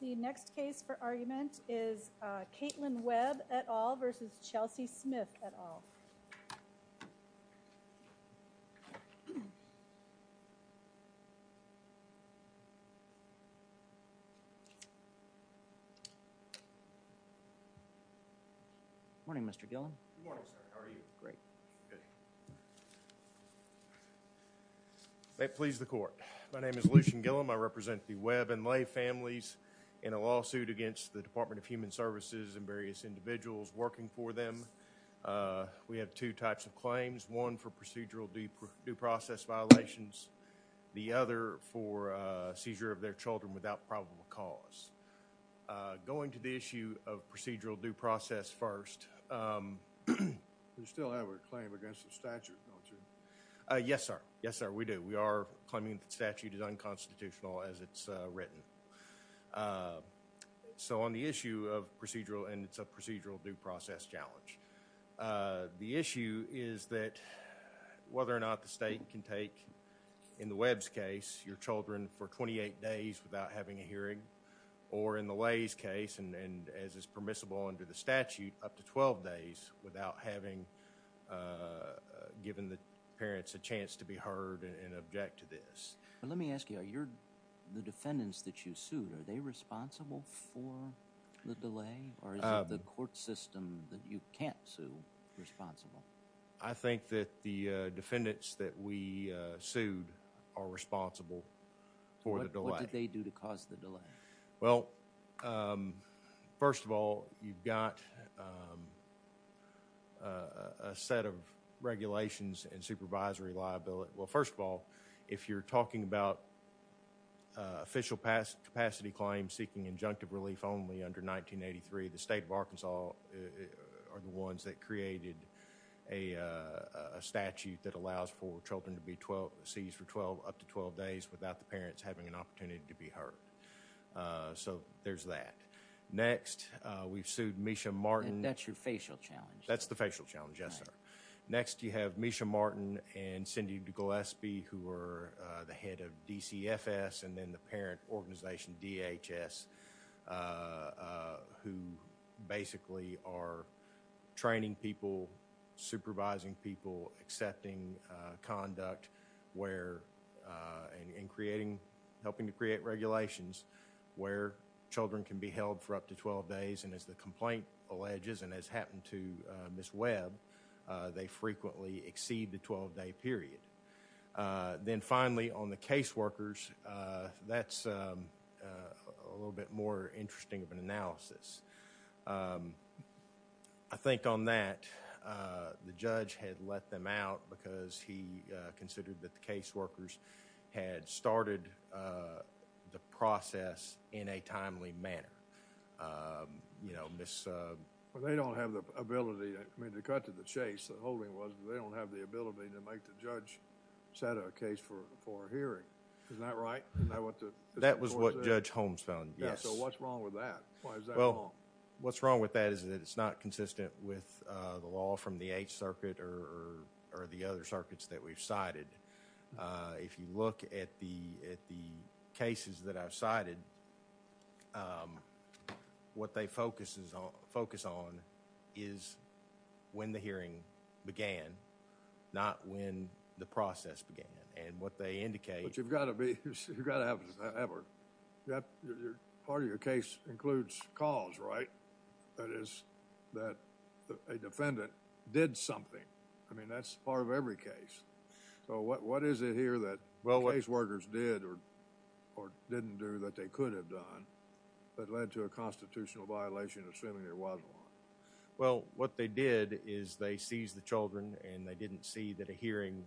The next case for argument is Katelyn Webb et al. v. Chelsea Smith et al. Good morning Mr. Gillum. Good morning sir, how are you? May it please the court. My name is Lucian Gillum. I represent the Webb and a lawsuit against the Department of Human Services and various individuals working for them. We have two types of claims. One for procedural due process violations. The other for seizure of their children without probable cause. Going to the issue of procedural due process first. You still have a claim against the statute, don't you? Yes sir, yes sir we do. We are claiming the statute is unconstitutional as it's written. So on the issue of procedural and it's a procedural due process challenge. The issue is that whether or not the state can take in the Webb's case your children for 28 days without having a hearing or in the Lay's case and as is permissible under the statute up to 12 days without having given the parents a chance to be heard and object to this. Let me ask you, are the defendants that you sued, are they responsible for the delay or is it the court system that you can't sue responsible? I think that the defendants that we sued are responsible for the delay. What did they do to cause the delay? Well first of all you've got a set of regulations and supervisory liability. Well first of all if you're talking about official past capacity claims seeking injunctive relief only under 1983, the state of Arkansas are the ones that created a statute that allows for children to be 12, seized for 12 up to 12 days without the parents having an opportunity to be heard. So there's that. Next we've sued Misha Martin. That's your facial challenge. That's the facial challenge yes sir. Next you have Misha Martin and Cindy Gillespie who are the head of DCFS and then the parent organization DHS who basically are training people, supervising people, accepting conduct and helping to create regulations where children can be held for up to 12 days and as the complaint alleges and has happened to Ms. Webb, they frequently exceed the 12-day period. Then finally on the caseworkers, that's a little bit more interesting of an allegation. Mr. Holmes found out because he considered that the caseworkers had started the process in a timely manner. They don't have the ability, I mean they cut to the chase, the holding was, but they don't have the ability to make the judge set a case for a hearing. Isn't that right? That was what Judge Holmes found, yes. So what's wrong with that? Why is that wrong? What's wrong with that is that it's not consistent with the law from the eighth circuit or the other circuits that we've cited. If you look at the cases that I've cited, what they focus on is when the hearing began, not when the process began and what they indicate... But you've got to be, you've got to have an effort. Part of your case includes cause, right? That is that a defendant did something. I mean that's part of every case. So what is it here that caseworkers did or didn't do that they could have done that led to a constitutional violation assuming there wasn't one? Well, what they did is they seized the children and they didn't see that a hearing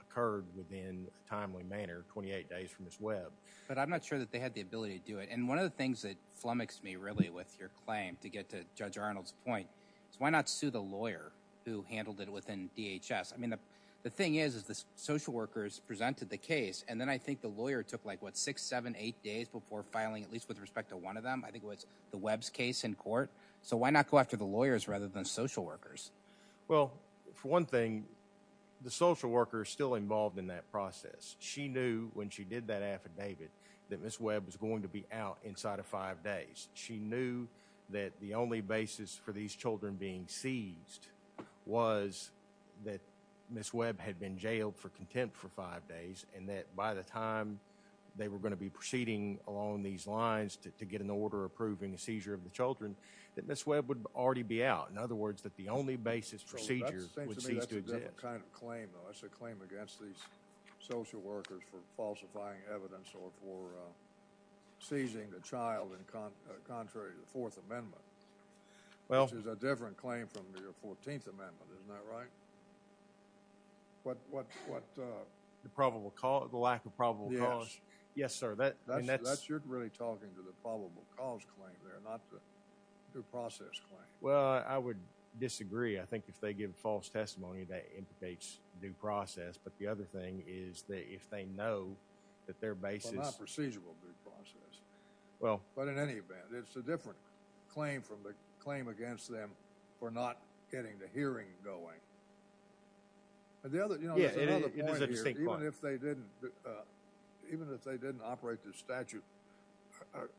occurred within a timely manner 28 days from Ms. Webb. But I'm not sure that they had the ability to do it. And one of the things that flummoxed me with your claim to get to Judge Arnold's point is why not sue the lawyer who handled it within DHS? I mean the thing is the social workers presented the case and then I think the lawyer took like what six, seven, eight days before filing at least with respect to one of them. I think it was the Webb's case in court. So why not go after the lawyers rather than social workers? Well, for one thing, the social worker is still involved in that process. She knew when she did that affidavit that Ms. Webb was going to be out inside of five days. She knew that the only basis for these children being seized was that Ms. Webb had been jailed for contempt for five days and that by the time they were going to be proceeding along these lines to get an order approving a seizure of the children that Ms. Webb would already be out. In other words, that the only basis for seizure would cease to exist. That's a different kind of claim. That's a claim against these social workers for falsifying evidence or for seizing the child and contrary to the Fourth Amendment. Well. Which is a different claim from your 14th Amendment. Isn't that right? What, what, what? The probable cause, the lack of probable cause. Yes. Yes, sir. That, I mean that's. That's, you're really talking to the probable cause claim there, not the due process claim. Well, I would disagree. I think if they give false testimony, that implicates due process, but the other thing is that if they know that their basis. But not procedural due process. Well. But in any event, it's a different claim from the claim against them for not getting the hearing going. The other, you know, there's another point here. Yeah, it is a distinct point. Even if they didn't, even if they didn't operate the statute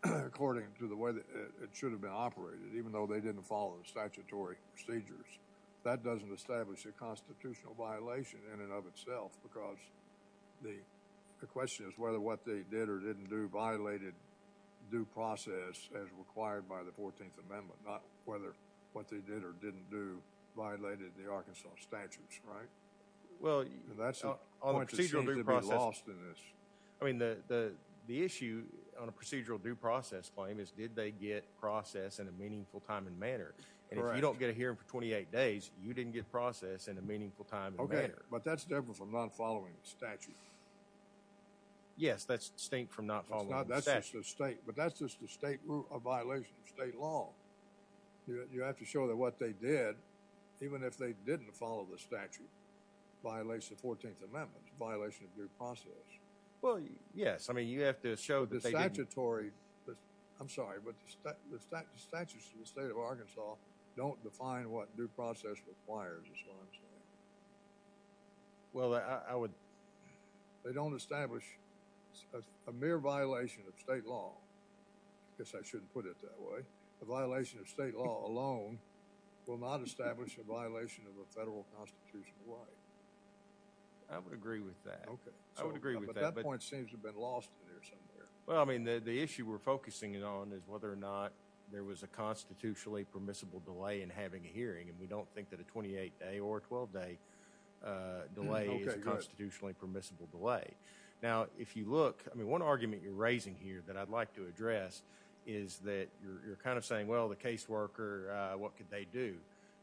according to the way that it should have been operated, even though they didn't follow the statutory procedures, that doesn't establish a constitutional violation in and of itself because the, the question is whether what they did or didn't do violated due process as required by the 14th Amendment, not whether what they did or didn't do violated the Arkansas statutes, right? Well. That's a point that seems to be lost in this. I mean, the, the, the issue on a procedural due process claim is, did they get process in a meaningful time and manner? Correct. You don't get a hearing for 28 days. You didn't get process in a meaningful time and manner. But that's different from not following the statute. Yes, that's distinct from not following the statute. It's not, that's just the state. But that's just the state, a violation of state law. You have to show that what they did, even if they didn't follow the statute, violates the 14th Amendment, violation of due process. Well, yes. I mean, you have to show that they didn't. The statutory, I'm sorry, but the statutes of the state of Arkansas don't define what due process requires, is what I'm saying. Well, I would. They don't establish a mere violation of state law. I guess I shouldn't put it that way. A violation of state law alone will not establish a violation of a federal constitutional right. I would agree with that. Okay. I would agree with that. But that point seems to have been lost in there somewhere. Well, I mean, the, the issue we're focusing it on is whether or not there was a constitutionally permissible delay in having a hearing. And we don't think that a 28-day or 12-day delay is a constitutionally permissible delay. Now, if you look, I mean, one argument you're raising here that I'd like to address is that you're kind of saying, well, the caseworker, what could they do?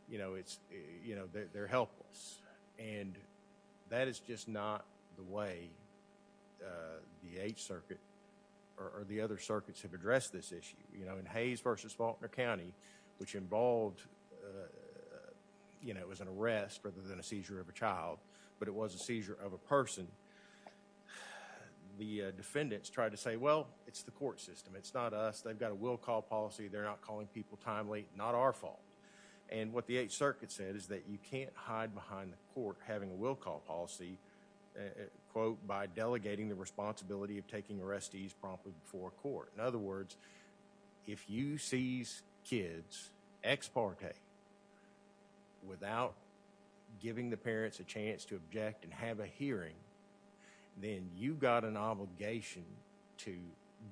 You know, it's, you know, they're helpless. And that is just not the way the 8th Circuit or the other circuits have addressed this issue. You know, in Hayes v. Faulkner County, which involved, you know, it was an arrest rather than a seizure of a child. But it was a seizure of a person. The defendants tried to say, well, it's the court system. It's not us. They've got a will call policy. They're not calling people timely. Not our fault. And what the 8th Circuit said is that you can't hide behind the court having a will call policy, quote, by delegating the responsibility of taking arrestees promptly before a court. In other words, if you seize kids ex parte without giving the parents a chance to object and have a hearing, then you've got an obligation to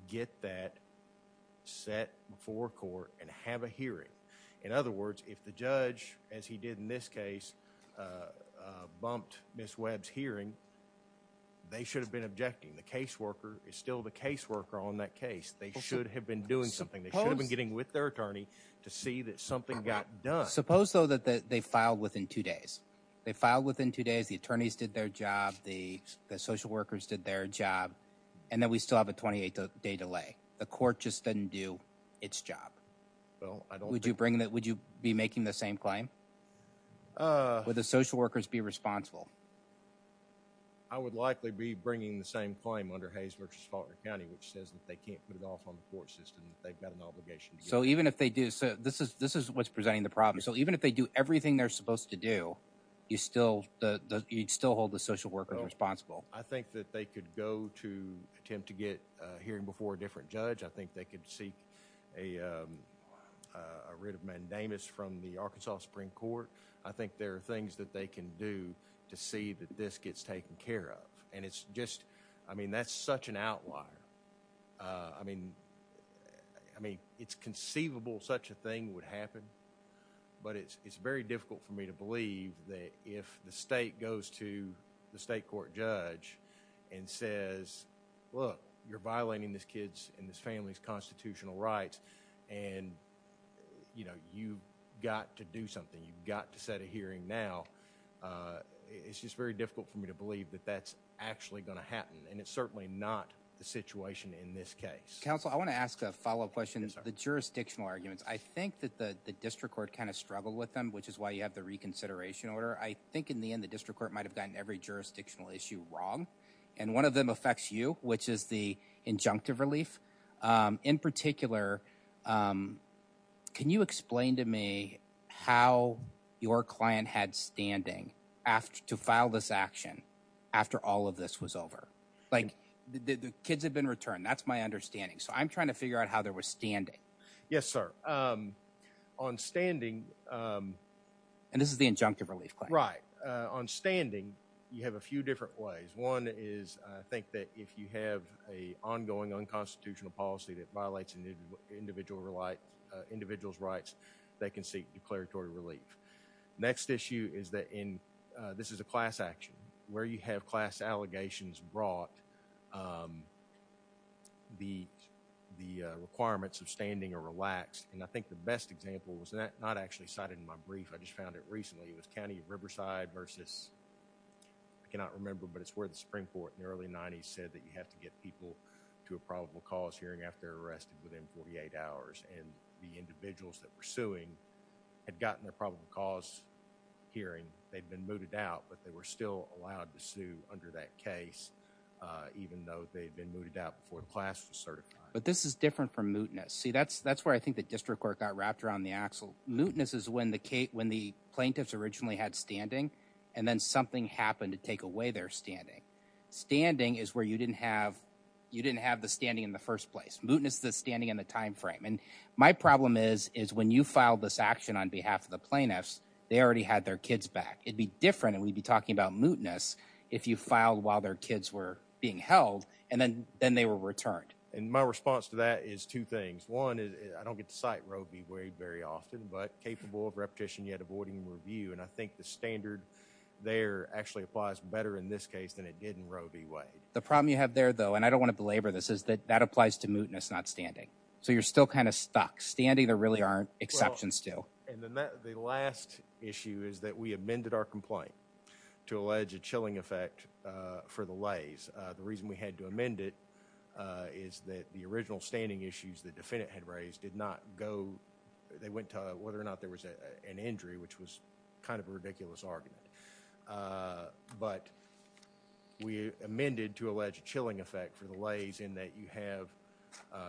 get that set before court and have a hearing. In other words, if the judge, as he did in this case, bumped Ms. Webb's hearing, they should have been objecting. The caseworker is still the caseworker on that case. They should have been doing something. They should have been getting with their attorney to see that something got done. Suppose, though, that they filed within two days. They filed within two days. The attorneys did their job. The social workers did their job. And then we still have a 28 day delay. The court just didn't do its job. Well, I don't. Would you bring that? Would you be making the same claim? Would the social workers be responsible? I would likely be bringing the same claim under Hayes v. Faulkner County, which says that they can't put it off on the court system. They've got an obligation. So even if they do, so this is what's presenting the problem. So even if they do everything they're supposed to do, you still hold the social workers responsible. I think that they could go to attempt to get a hearing before a different judge. I think they could seek a writ of mandamus from the Arkansas Supreme Court. I think there are things that they can do to see that this gets taken care of. And it's just, I mean, that's such an outlier. I mean, I mean, it's conceivable such a thing would happen. But it's very difficult for me to believe that if the state goes to the state court judge and says, look, you're violating this kid's and this family's constitutional rights. And, you know, you've got to do something. You've got to set a hearing now. It's just very difficult for me to believe that that's actually going to happen. And it's certainly not the situation in this case. Counsel, I want to ask a follow up question. The jurisdictional arguments, I think that the district court kind of struggled with them, which is why you have the reconsideration order. I think in the end, the district court might have gotten every jurisdictional issue wrong. And one of them affects you, which is the injunctive relief. In particular, can you explain to me how your client had standing after to file this action after all of this was over? Like the kids have been returned. That's my understanding. So I'm trying to figure out how there was standing. Yes, sir. On standing. And this is the injunctive relief. Right. On standing, you have a few different ways. One is, I think that if you have a ongoing unconstitutional policy that violates individual right, individual's rights, they can seek declaratory relief. Next issue is that in this is a class action where you have class allegations brought the requirements of standing are relaxed. And I think the best example was not actually cited in my brief. I just found it recently. It was County of Riverside versus, I cannot remember, but it's where the Supreme Court in the early 90s said that you have to get people to a probable cause hearing after they're arrested within 48 hours. And the individuals that were suing had gotten their probable cause hearing. They've been mooted out, but they were still allowed to sue under that case, even though they've been mooted out before the class was certified. But this is different from mootness. See, that's where I think the district court got wrapped around the axle. Mootness is when the plaintiffs originally had standing, and then something happened to take away their standing. Standing is where you didn't have the standing in the first place. Mootness is the standing in the time frame. And my problem is, is when you filed this action on behalf of the plaintiffs, they already had their kids back. It'd be different, and we'd be talking about mootness if you filed while their kids were being held, and then they were returned. And my response to that is two things. One is, I don't get to cite Roe v. Wade very often, but capable of repetition, yet avoiding review. And I think the standard there actually applies better in this case than it did in Roe v. Wade. The problem you have there, though, and I don't want to belabor this, is that that applies to mootness, not standing. So you're still kind of stuck. Standing, there really aren't exceptions to. And then the last issue is that we amended our complaint to allege a chilling effect for the lays. The reason we had to amend it is that the original standing issues the defendant had raised did not go, they went to whether or not there was an injury, which was kind of a ridiculous argument. But we amended to allege a chilling effect for the lays in that you have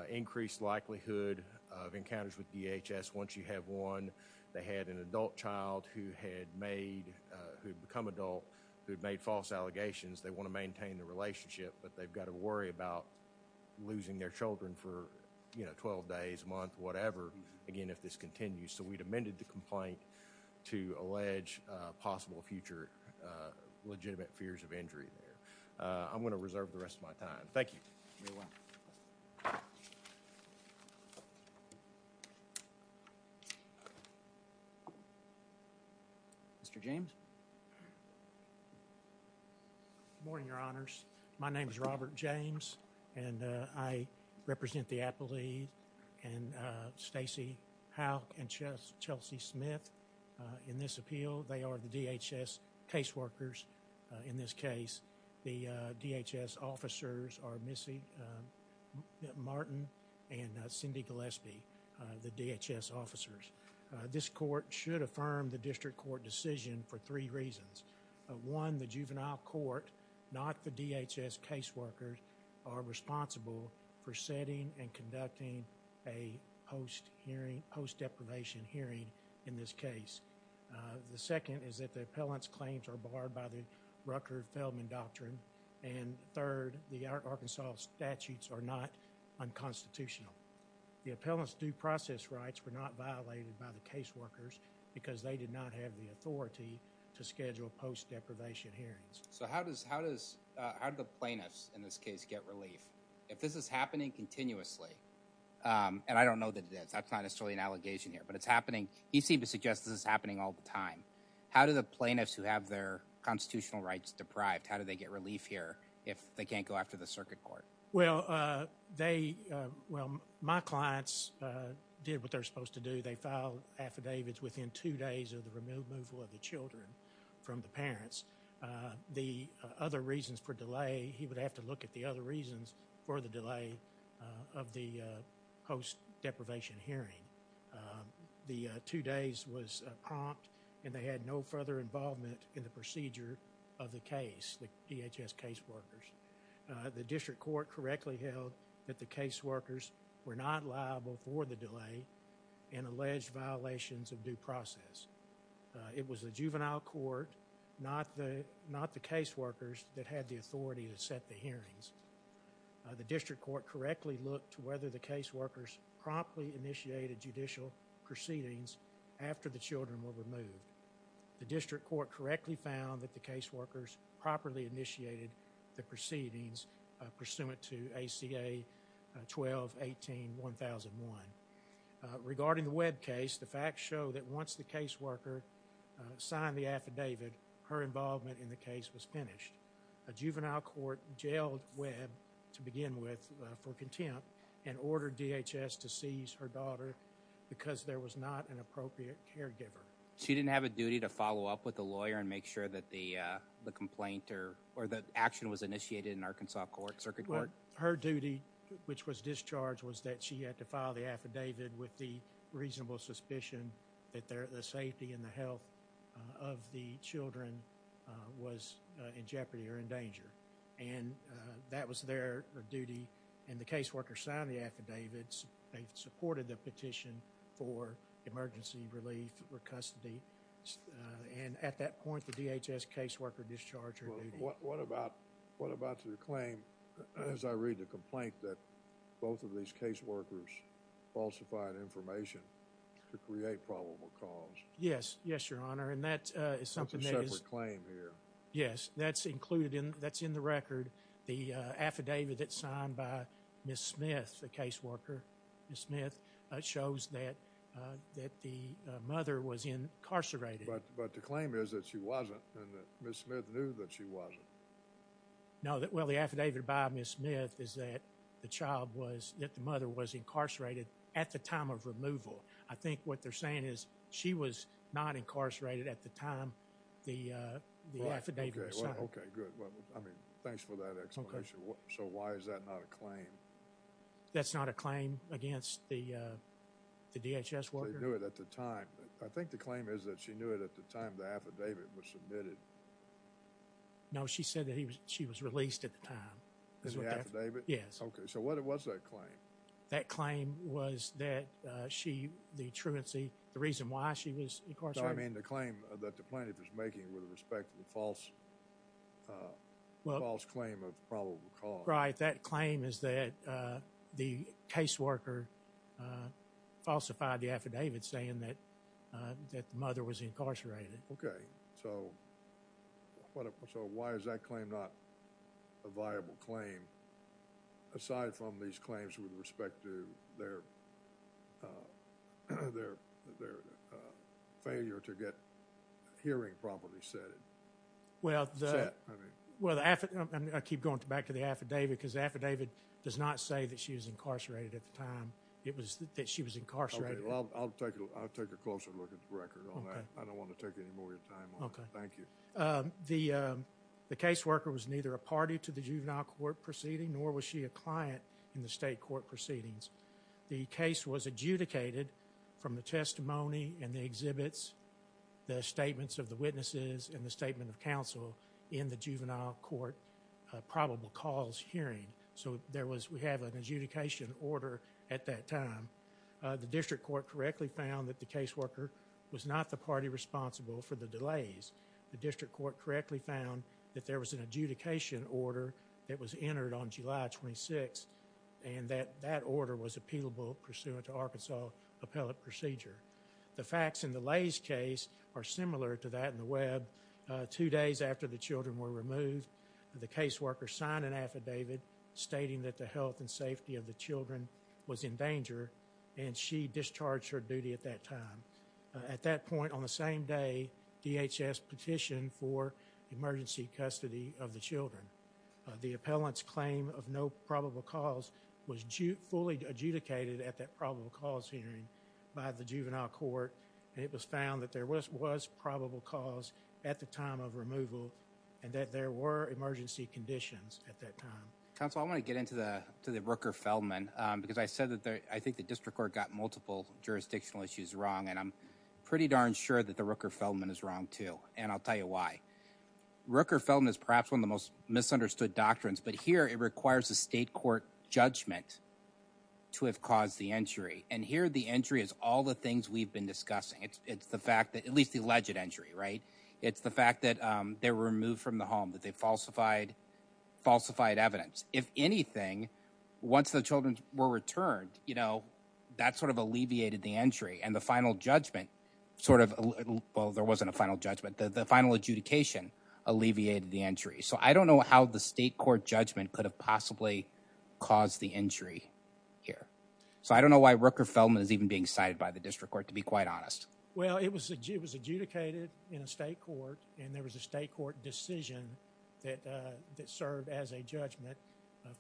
increased likelihood of encounters with DHS once you have one. They had an adult child who had made, who had become adult, who had made false allegations. They want to maintain the relationship, but they've got to worry about losing their children for, you know, 12 days, a month, whatever, again, if this continues. So we'd amended the complaint to allege possible future legitimate fears of injury there. I'm going to reserve the rest of my time. Thank you. Mr. James. Good morning, your honors. My name is Robert James and I represent the appellee and Stacey Howe and Chelsea Smith in this appeal. They are the DHS caseworkers in this case. The DHS officers are Missy Martin and Cindy Gillespie, the DHS officers. This court should affirm the district court decision for three reasons. One, the juvenile court, not the DHS caseworkers, are responsible for setting and conducting a post hearing, post deprivation hearing in this case. The second is that the appellant's claims are barred by the Rucker-Feldman doctrine. And third, the Arkansas statutes are not unconstitutional. The appellant's due process rights were not violated by the caseworkers because they did not have the authority to schedule post deprivation hearings. So how does the plaintiffs in this case get relief if this is happening continuously? And I don't know that it is. That's not necessarily an allegation here, but it's happening. He seemed to suggest this is happening all the time. How do the plaintiffs who have their constitutional rights deprived, how do they get relief here if they can't go after the circuit court? Well, my clients did what they're supposed to do. They filed affidavits within two days of the removal of the children from the parents. The other reasons for delay, he would have to look at the other reasons for the delay of the post deprivation hearing. The two days was prompt and they had no further involvement in the procedure of the case, the DHS caseworkers. The district court correctly held that the caseworkers were not liable for the delay and alleged violations of due process. It was the juvenile court, not the caseworkers that had the authority to set the hearings. The district court correctly looked to whether the caseworkers promptly initiated judicial proceedings after the children were removed. The district court correctly found that the caseworkers properly initiated the proceedings pursuant to ACA 12-18-1001. Regarding the Webb case, the facts show that once the caseworker signed the affidavit, her involvement in the case was finished. A juvenile court jailed Webb to begin with for contempt and ordered DHS to seize her daughter because there was not an appropriate caregiver. She didn't have a duty to follow up with the lawyer and make sure that the complaint or the action was initiated in Arkansas Circuit Court. Her duty, which was discharge, was that she had to file the affidavit with the reasonable suspicion that the safety and the health of the children was in jeopardy or in danger and that was their duty and the caseworkers signed the affidavits. They supported the petition for emergency relief or custody and at that point, the DHS caseworker discharged her duty. What about to the claim, as I read the complaint, that both of these caseworkers falsified information to create probable cause? Yes, yes, Your Honor, and that is something that is- That's a separate claim here. Yes, that's included in, that's in the record. The affidavit that's signed by Ms. Smith, the caseworker Ms. Smith, shows that the mother was incarcerated. But the claim is that she wasn't and that Ms. Smith knew that she wasn't. No, well, the affidavit by Ms. Smith is that the child was, that the mother was incarcerated at the time of removal. I think what they're saying is she was not incarcerated at the time the affidavit was signed. Okay, good. I mean, thanks for that explanation. So why is that not a claim? That's not a claim against the DHS worker? They knew it at the time. I think the claim is that she knew it at the time the affidavit was submitted. No, she said that she was released at the time. In the affidavit? Yes. Okay, so what was that claim? That claim was that she, the truancy, the reason why she was incarcerated- I mean, the claim that the plaintiff is making with respect to the false claim of probable cause. That claim is that the caseworker falsified the affidavit saying that the mother was incarcerated. Okay, so why is that claim not a viable claim aside from these claims with respect to their failure to get hearing properly said? Well, I keep going back to the affidavit because the affidavit does not say that she was incarcerated at the time. It was that she was incarcerated. I'll take a closer look at the record on that. I don't want to take any more of your time on it. Thank you. The caseworker was neither a party to the juvenile court proceeding nor was she a client in the state court proceedings. The case was adjudicated from the testimony and the exhibits, the statements of the witnesses and the statement of counsel in the juvenile court probable cause hearing. So we have an adjudication order at that time. The district court correctly found that the caseworker was not the party responsible for the delays. The district court correctly found that there was an adjudication order that was entered on July 26th and that that order was appealable pursuant to Arkansas appellate procedure. The facts in the Lay's case are similar to that in the Webb. Two days after the children were removed, the caseworker signed an affidavit stating that the health and safety of the children was in danger and she discharged her duty at that time. At that point on the same day, DHS petitioned for emergency custody of the children. The appellant's claim of no probable cause was fully adjudicated at that probable cause hearing by the juvenile court and it was found that there was probable cause at the time of removal and that there were emergency conditions at that time. Counsel, I want to get into the Rooker-Feldman because I said that I think the district court got multiple jurisdictional issues wrong and I'm pretty darn sure that the Rooker-Feldman is wrong too and I'll tell you why. Rooker-Feldman is perhaps one of the most misunderstood doctrines, but here it requires a state court judgment to have caused the entry and here the entry is all the things we've been discussing. It's the fact that, at least the alleged entry, right? It's the fact that they were removed from the home, that they falsified evidence. If anything, once the children were returned, that sort of alleviated the entry and the final judgment sort of, well, there wasn't a final judgment. The final adjudication alleviated the entry. So I don't know how the state court judgment could have possibly caused the entry here. So I don't know why Rooker-Feldman is even being cited by the district court, to be quite honest. Well, it was adjudicated in a state court and there was a state court decision that served as a judgment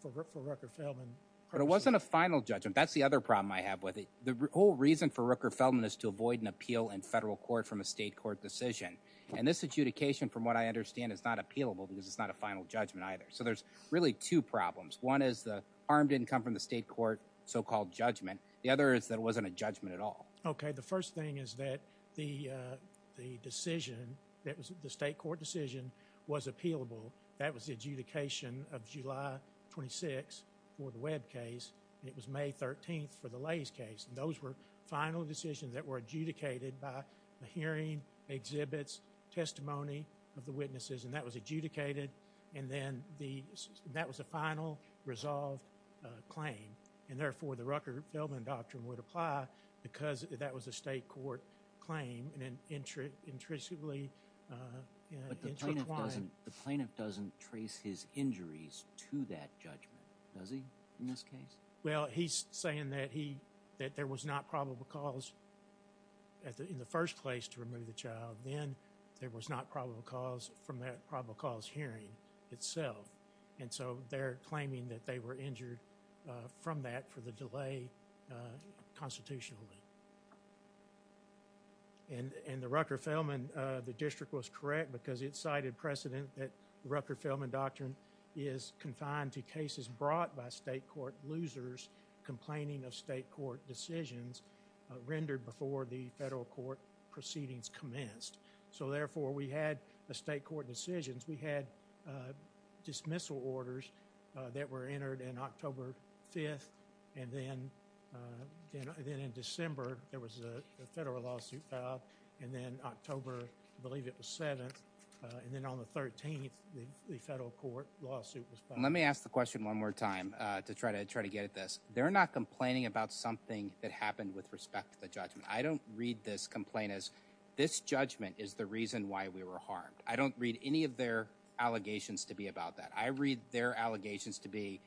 for Rooker-Feldman. But it wasn't a final judgment. That's the other problem I have with it. The whole reason for Rooker-Feldman is to avoid an appeal in federal court from a state court decision and this adjudication, from what I understand, is not appealable because it's not a final judgment either. So there's really two problems. One is the harm didn't come from the state court, so-called judgment. The other is that it wasn't a judgment at all. Okay, the first thing is that the decision, that was the state court decision, was appealable. That was the adjudication of July 26 for the Webb case. It was May 13th for the Lays case and those were final decisions that were adjudicated by the hearing, exhibits, testimony of the witnesses and that was adjudicated and then that was a final resolve claim and therefore the Rooker-Feldman doctrine would apply because that was a state court claim and intrusively intertwined. The plaintiff doesn't trace his injuries to that judgment, does he, in this case? Well, he's saying that he, that there was not probable cause in the first place to remove the child. Then there was not probable cause from that probable cause hearing itself and so they're claiming that they were injured from that for the delay constitutionally and the Rooker-Feldman, the district was correct because it cited precedent that the Rooker-Feldman doctrine is confined to cases brought by state court losers complaining of state court decisions rendered before the federal court proceedings commenced. So therefore we had the state court decisions. We had dismissal orders that were entered in October 5th and then in December, there was a federal lawsuit filed and then October, I believe it was 7th and then on the 13th, the federal court lawsuit was filed. Let me ask the question one more time to try to get at this. They're not complaining about something that happened with respect to the judgment. I don't read this complaint as this judgment is the reason why we were harmed. I don't read any of their allegations to be about that. I read their allegations to be,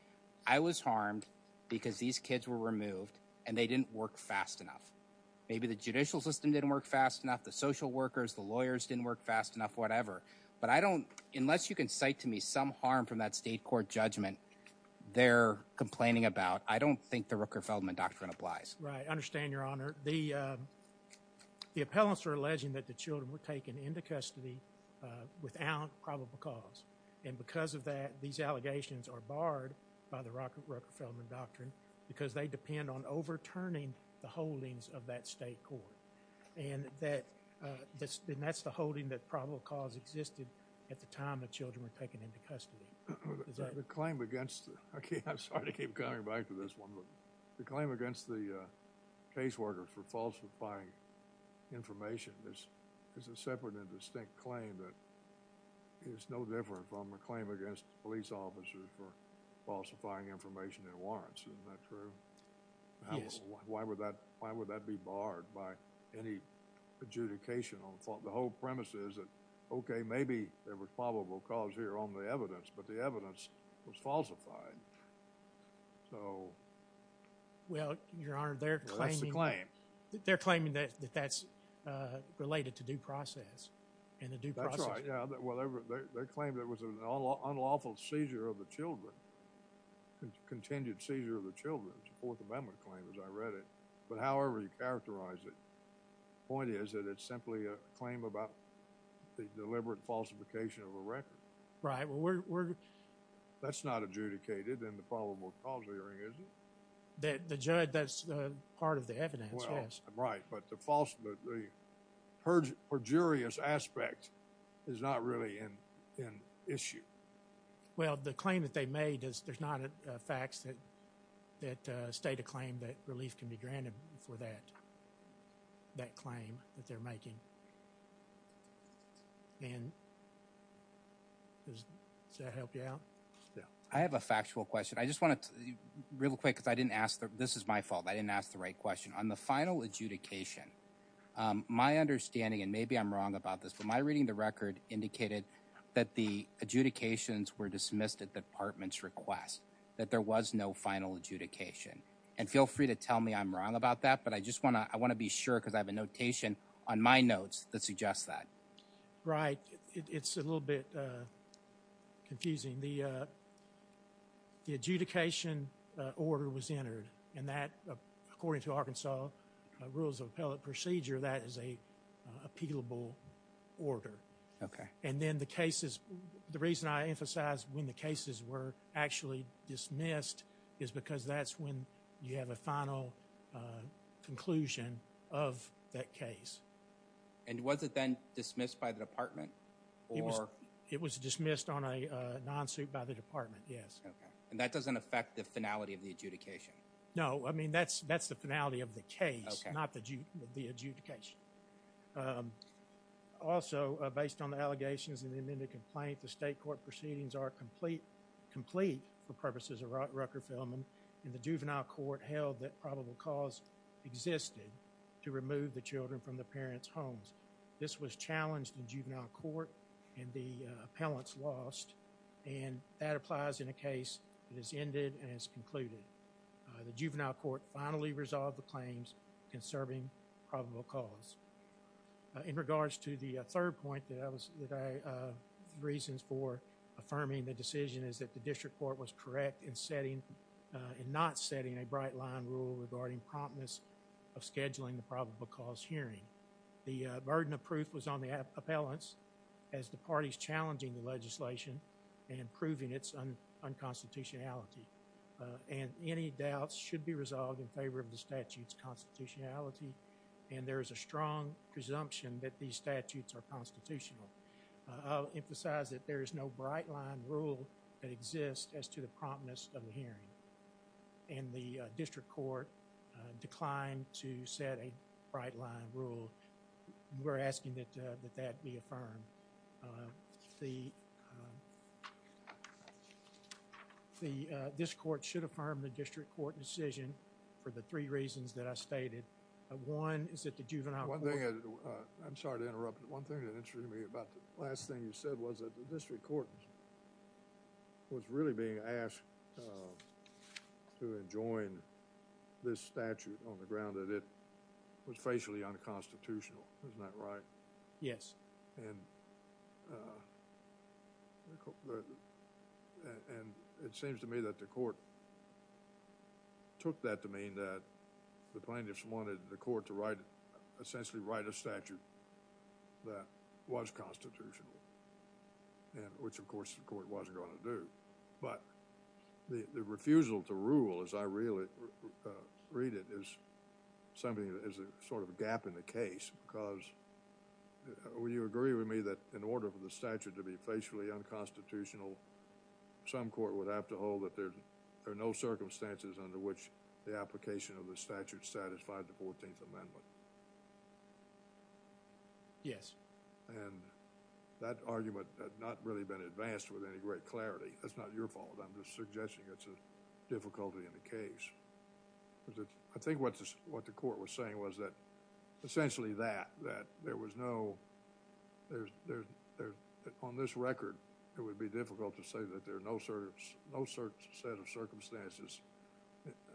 I was harmed because these kids were removed and they didn't work fast enough. Maybe the judicial system didn't work fast enough, the social workers, the lawyers didn't work fast enough, whatever, but I don't, unless you can cite to me some harm from that state court judgment they're complaining about, I don't think the Rooker-Feldman doctrine applies. Right, I understand your honor. The appellants are alleging that the children were taken into custody without probable cause and because of that, these allegations are barred by the Rooker-Feldman doctrine because they depend on overturning the holdings of that state court and that's the holding that probable cause existed at the time the children were taken into custody. Is that the claim against, okay, I'm sorry to keep coming back to this one, but the claim against the caseworker for falsifying information is a separate and distinct claim that is no different from a claim against police officers for falsifying information in warrants. Isn't that true? Yes. Why would that be barred by any adjudication on the whole premises that, okay, maybe there was probable cause here on the evidence, but the evidence was falsified. So that's the claim. Well, your honor, they're claiming that that's related to due process and a due process. That's right, yeah. Well, they're claiming there was an unlawful seizure of the children, contingent seizure of the children, it's a Fourth Amendment claim as I read it, but however you characterize it, point is that it's simply a claim about the deliberate falsification of a record. Right, well, we're... That's not adjudicated in the probable cause hearing, is it? The judge, that's part of the evidence, yes. Right, but the false, but the perjurious aspect is not really an issue. Well, the claim that they made is there's not facts that state a claim that relief can be granted for that claim that they're making. And does that help you out? Yeah, I have a factual question. I just wanted to, real quick, because I didn't ask, this is my fault, I didn't ask the right question. On the final adjudication, my understanding, and maybe I'm wrong about this, but my reading the record indicated that the adjudications were dismissed at the department's request, that there was no final adjudication. And feel free to tell me I'm wrong about that, but I just want to, I want to be sure because I have a notation on my notes that suggests that. Right, it's a little bit confusing. The adjudication order was entered and that, according to Arkansas rules of appellate procedure, that is a appealable order. Okay. And then the cases, the reason I emphasize when the cases were actually dismissed is because that's when you have a final conclusion of that case. And was it then dismissed by the department? It was dismissed on a non-suit by the department, yes. Okay, and that doesn't affect the finality of the adjudication? No, I mean that's the finality of the case, not the adjudication. Also, based on the allegations in the amended complaint, the state court proceedings are complete for purposes of Rucker-Feldman, and the juvenile court held that probable cause existed to remove the children from the parents' homes. This was challenged in juvenile court and the appellants lost, and that applies in a case that has ended and has concluded. The juvenile court finally resolved the claims conserving probable cause. In regards to the third point, that was the reasons for affirming the decision is that the district court was correct in not setting a bright line rule regarding promptness of scheduling the probable cause hearing. The burden of proof was on the appellants as the parties challenging the legislation and proving its unconstitutionality. And any doubts should be resolved in favor of the statute's constitutionality, and there is a strong presumption that these statutes are constitutional. I'll emphasize that there is no bright line rule that exists as to the promptness of the hearing, and the district court declined to set a bright line rule. We're asking that that be affirmed. And the, this court should affirm the district court decision for the three reasons that I stated. One is that the juvenile court- One thing, I'm sorry to interrupt, one thing that interested me about the last thing you said was that the district court was really being asked to enjoin this statute on the ground that it was facially unconstitutional. Isn't that right? Yes. And it seems to me that the court took that to mean that the plaintiffs wanted the court to write, essentially write a statute that was constitutional, which of course the court wasn't going to do. But the refusal to rule, as I really read it, is something that is a sort of a gap in the case because, would you agree with me that in order for the statute to be facially unconstitutional, some court would have to hold that there are no circumstances under which the application of the statute satisfied the 14th Amendment? Yes. And that argument had not really been advanced with any great clarity. That's not your fault. I'm just suggesting it's a difficulty in the case. I think what the court was saying was essentially that there was no, on this record, it would be difficult to say that there are no certain set of circumstances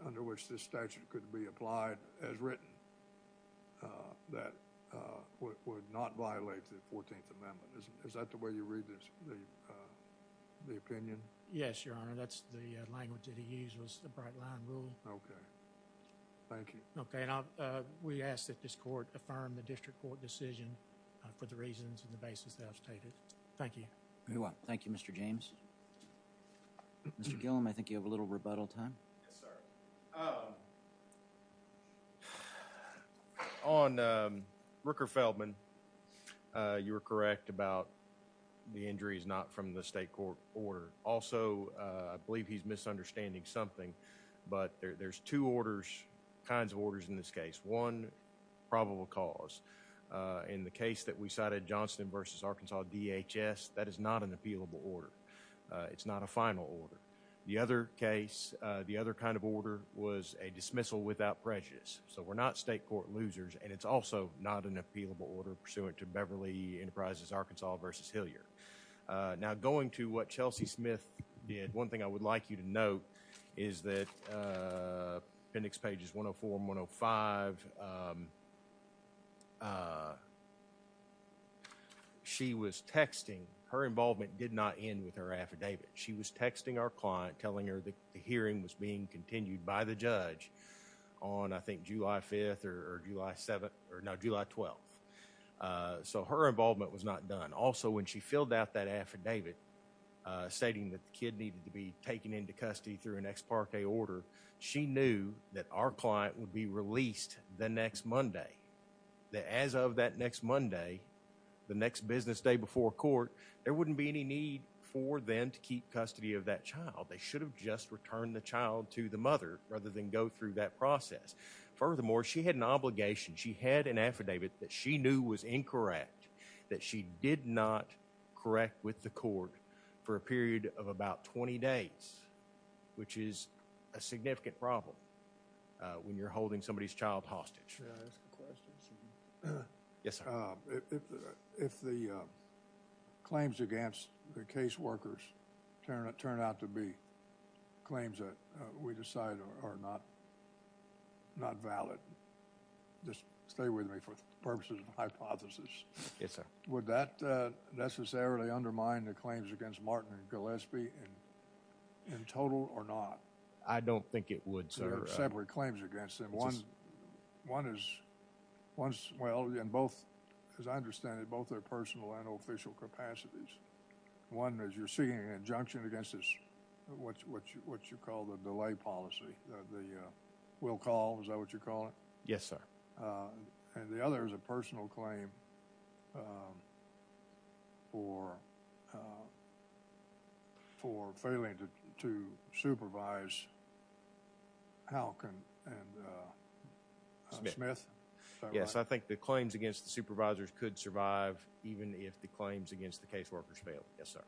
under which this statute could be applied as written that would not violate the 14th Amendment. Is that the way you read the opinion? Yes, Your Honor. That's the language that he used was the bright line rule. Okay. Thank you. Okay. We ask that this court affirm the district court decision for the reasons and the basis that I've stated. Thank you. You're welcome. Thank you, Mr. James. Mr. Gillum, I think you have a little rebuttal time. Yes, sir. On Rooker Feldman, you were correct about the injuries not from the state court order. Also, I believe he's misunderstanding something, but there's two kinds of orders in this case. One, probable cause. In the case that we cited, Johnston v. Arkansas DHS, that is not an appealable order. It's not a final order. The other case, the other kind of order was a dismissal without prejudice. We're not state court losers, and it's also not an appealable order pursuant to Beverly Enterprises Arkansas v. Hilliard. Now, going to what Chelsea Smith did, one thing I would like you to note is that appendix pages 104 and 105, she was texting. Her involvement did not end with her affidavit. She was texting our client telling her that the hearing was being continued by the judge on, I think, July 5th or July 7th, or no, July 12th. So her involvement was not done. Also, when she filled out that affidavit stating that the kid needed to be taken into custody through an ex parte order, she knew that our client would be released the next Monday, that as of that next Monday, the next business day before court, there wouldn't be any need for them to keep custody of that child. They should have just returned the child to the mother rather than go through that process. Furthermore, she had an obligation. She had an affidavit that she knew was incorrect, that she did not correct with the court for a period of about 20 days. Which is a significant problem when you're holding somebody's child hostage. May I ask a question, sir? Yes, sir. If the claims against the case workers turn out to be claims that we decide are not valid, just stay with me for purposes of hypothesis. Yes, sir. Would that necessarily undermine the claims against Martin and Gillespie in total or not? I don't think it would, sir. There are separate claims against them. One is, well, and both, as I understand it, both are personal and official capacities. One is you're seeking an injunction against this, what you call the delay policy, the will call, is that what you call it? Yes, sir. And the other is a personal claim for failing to supervise Halk and Smith, is that right? Yes, I think the claims against the supervisors could survive even if the claims against the case workers fail. Yes, sir.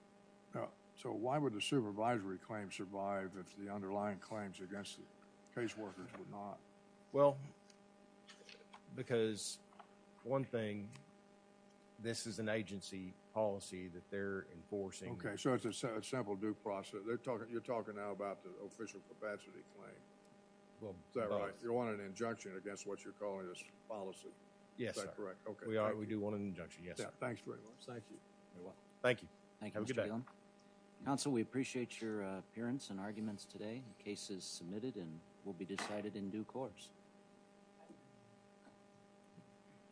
So why would the supervisory claim survive if the underlying claims against the case workers would not? Well, because one thing, this is an agency policy that they're enforcing. Okay, so it's a simple due process. They're talking, you're talking now about the official capacity claim. Well, both. Is that right? You want an injunction against what you're calling this policy? Yes, sir. Is that correct? Okay. We are, we do want an injunction, yes, sir. Thanks very much. Thank you. You're welcome. Thank you. Thank you, Mr. Bealen. Counsel, we appreciate your appearance and arguments today. Case is submitted and will be decided in due course.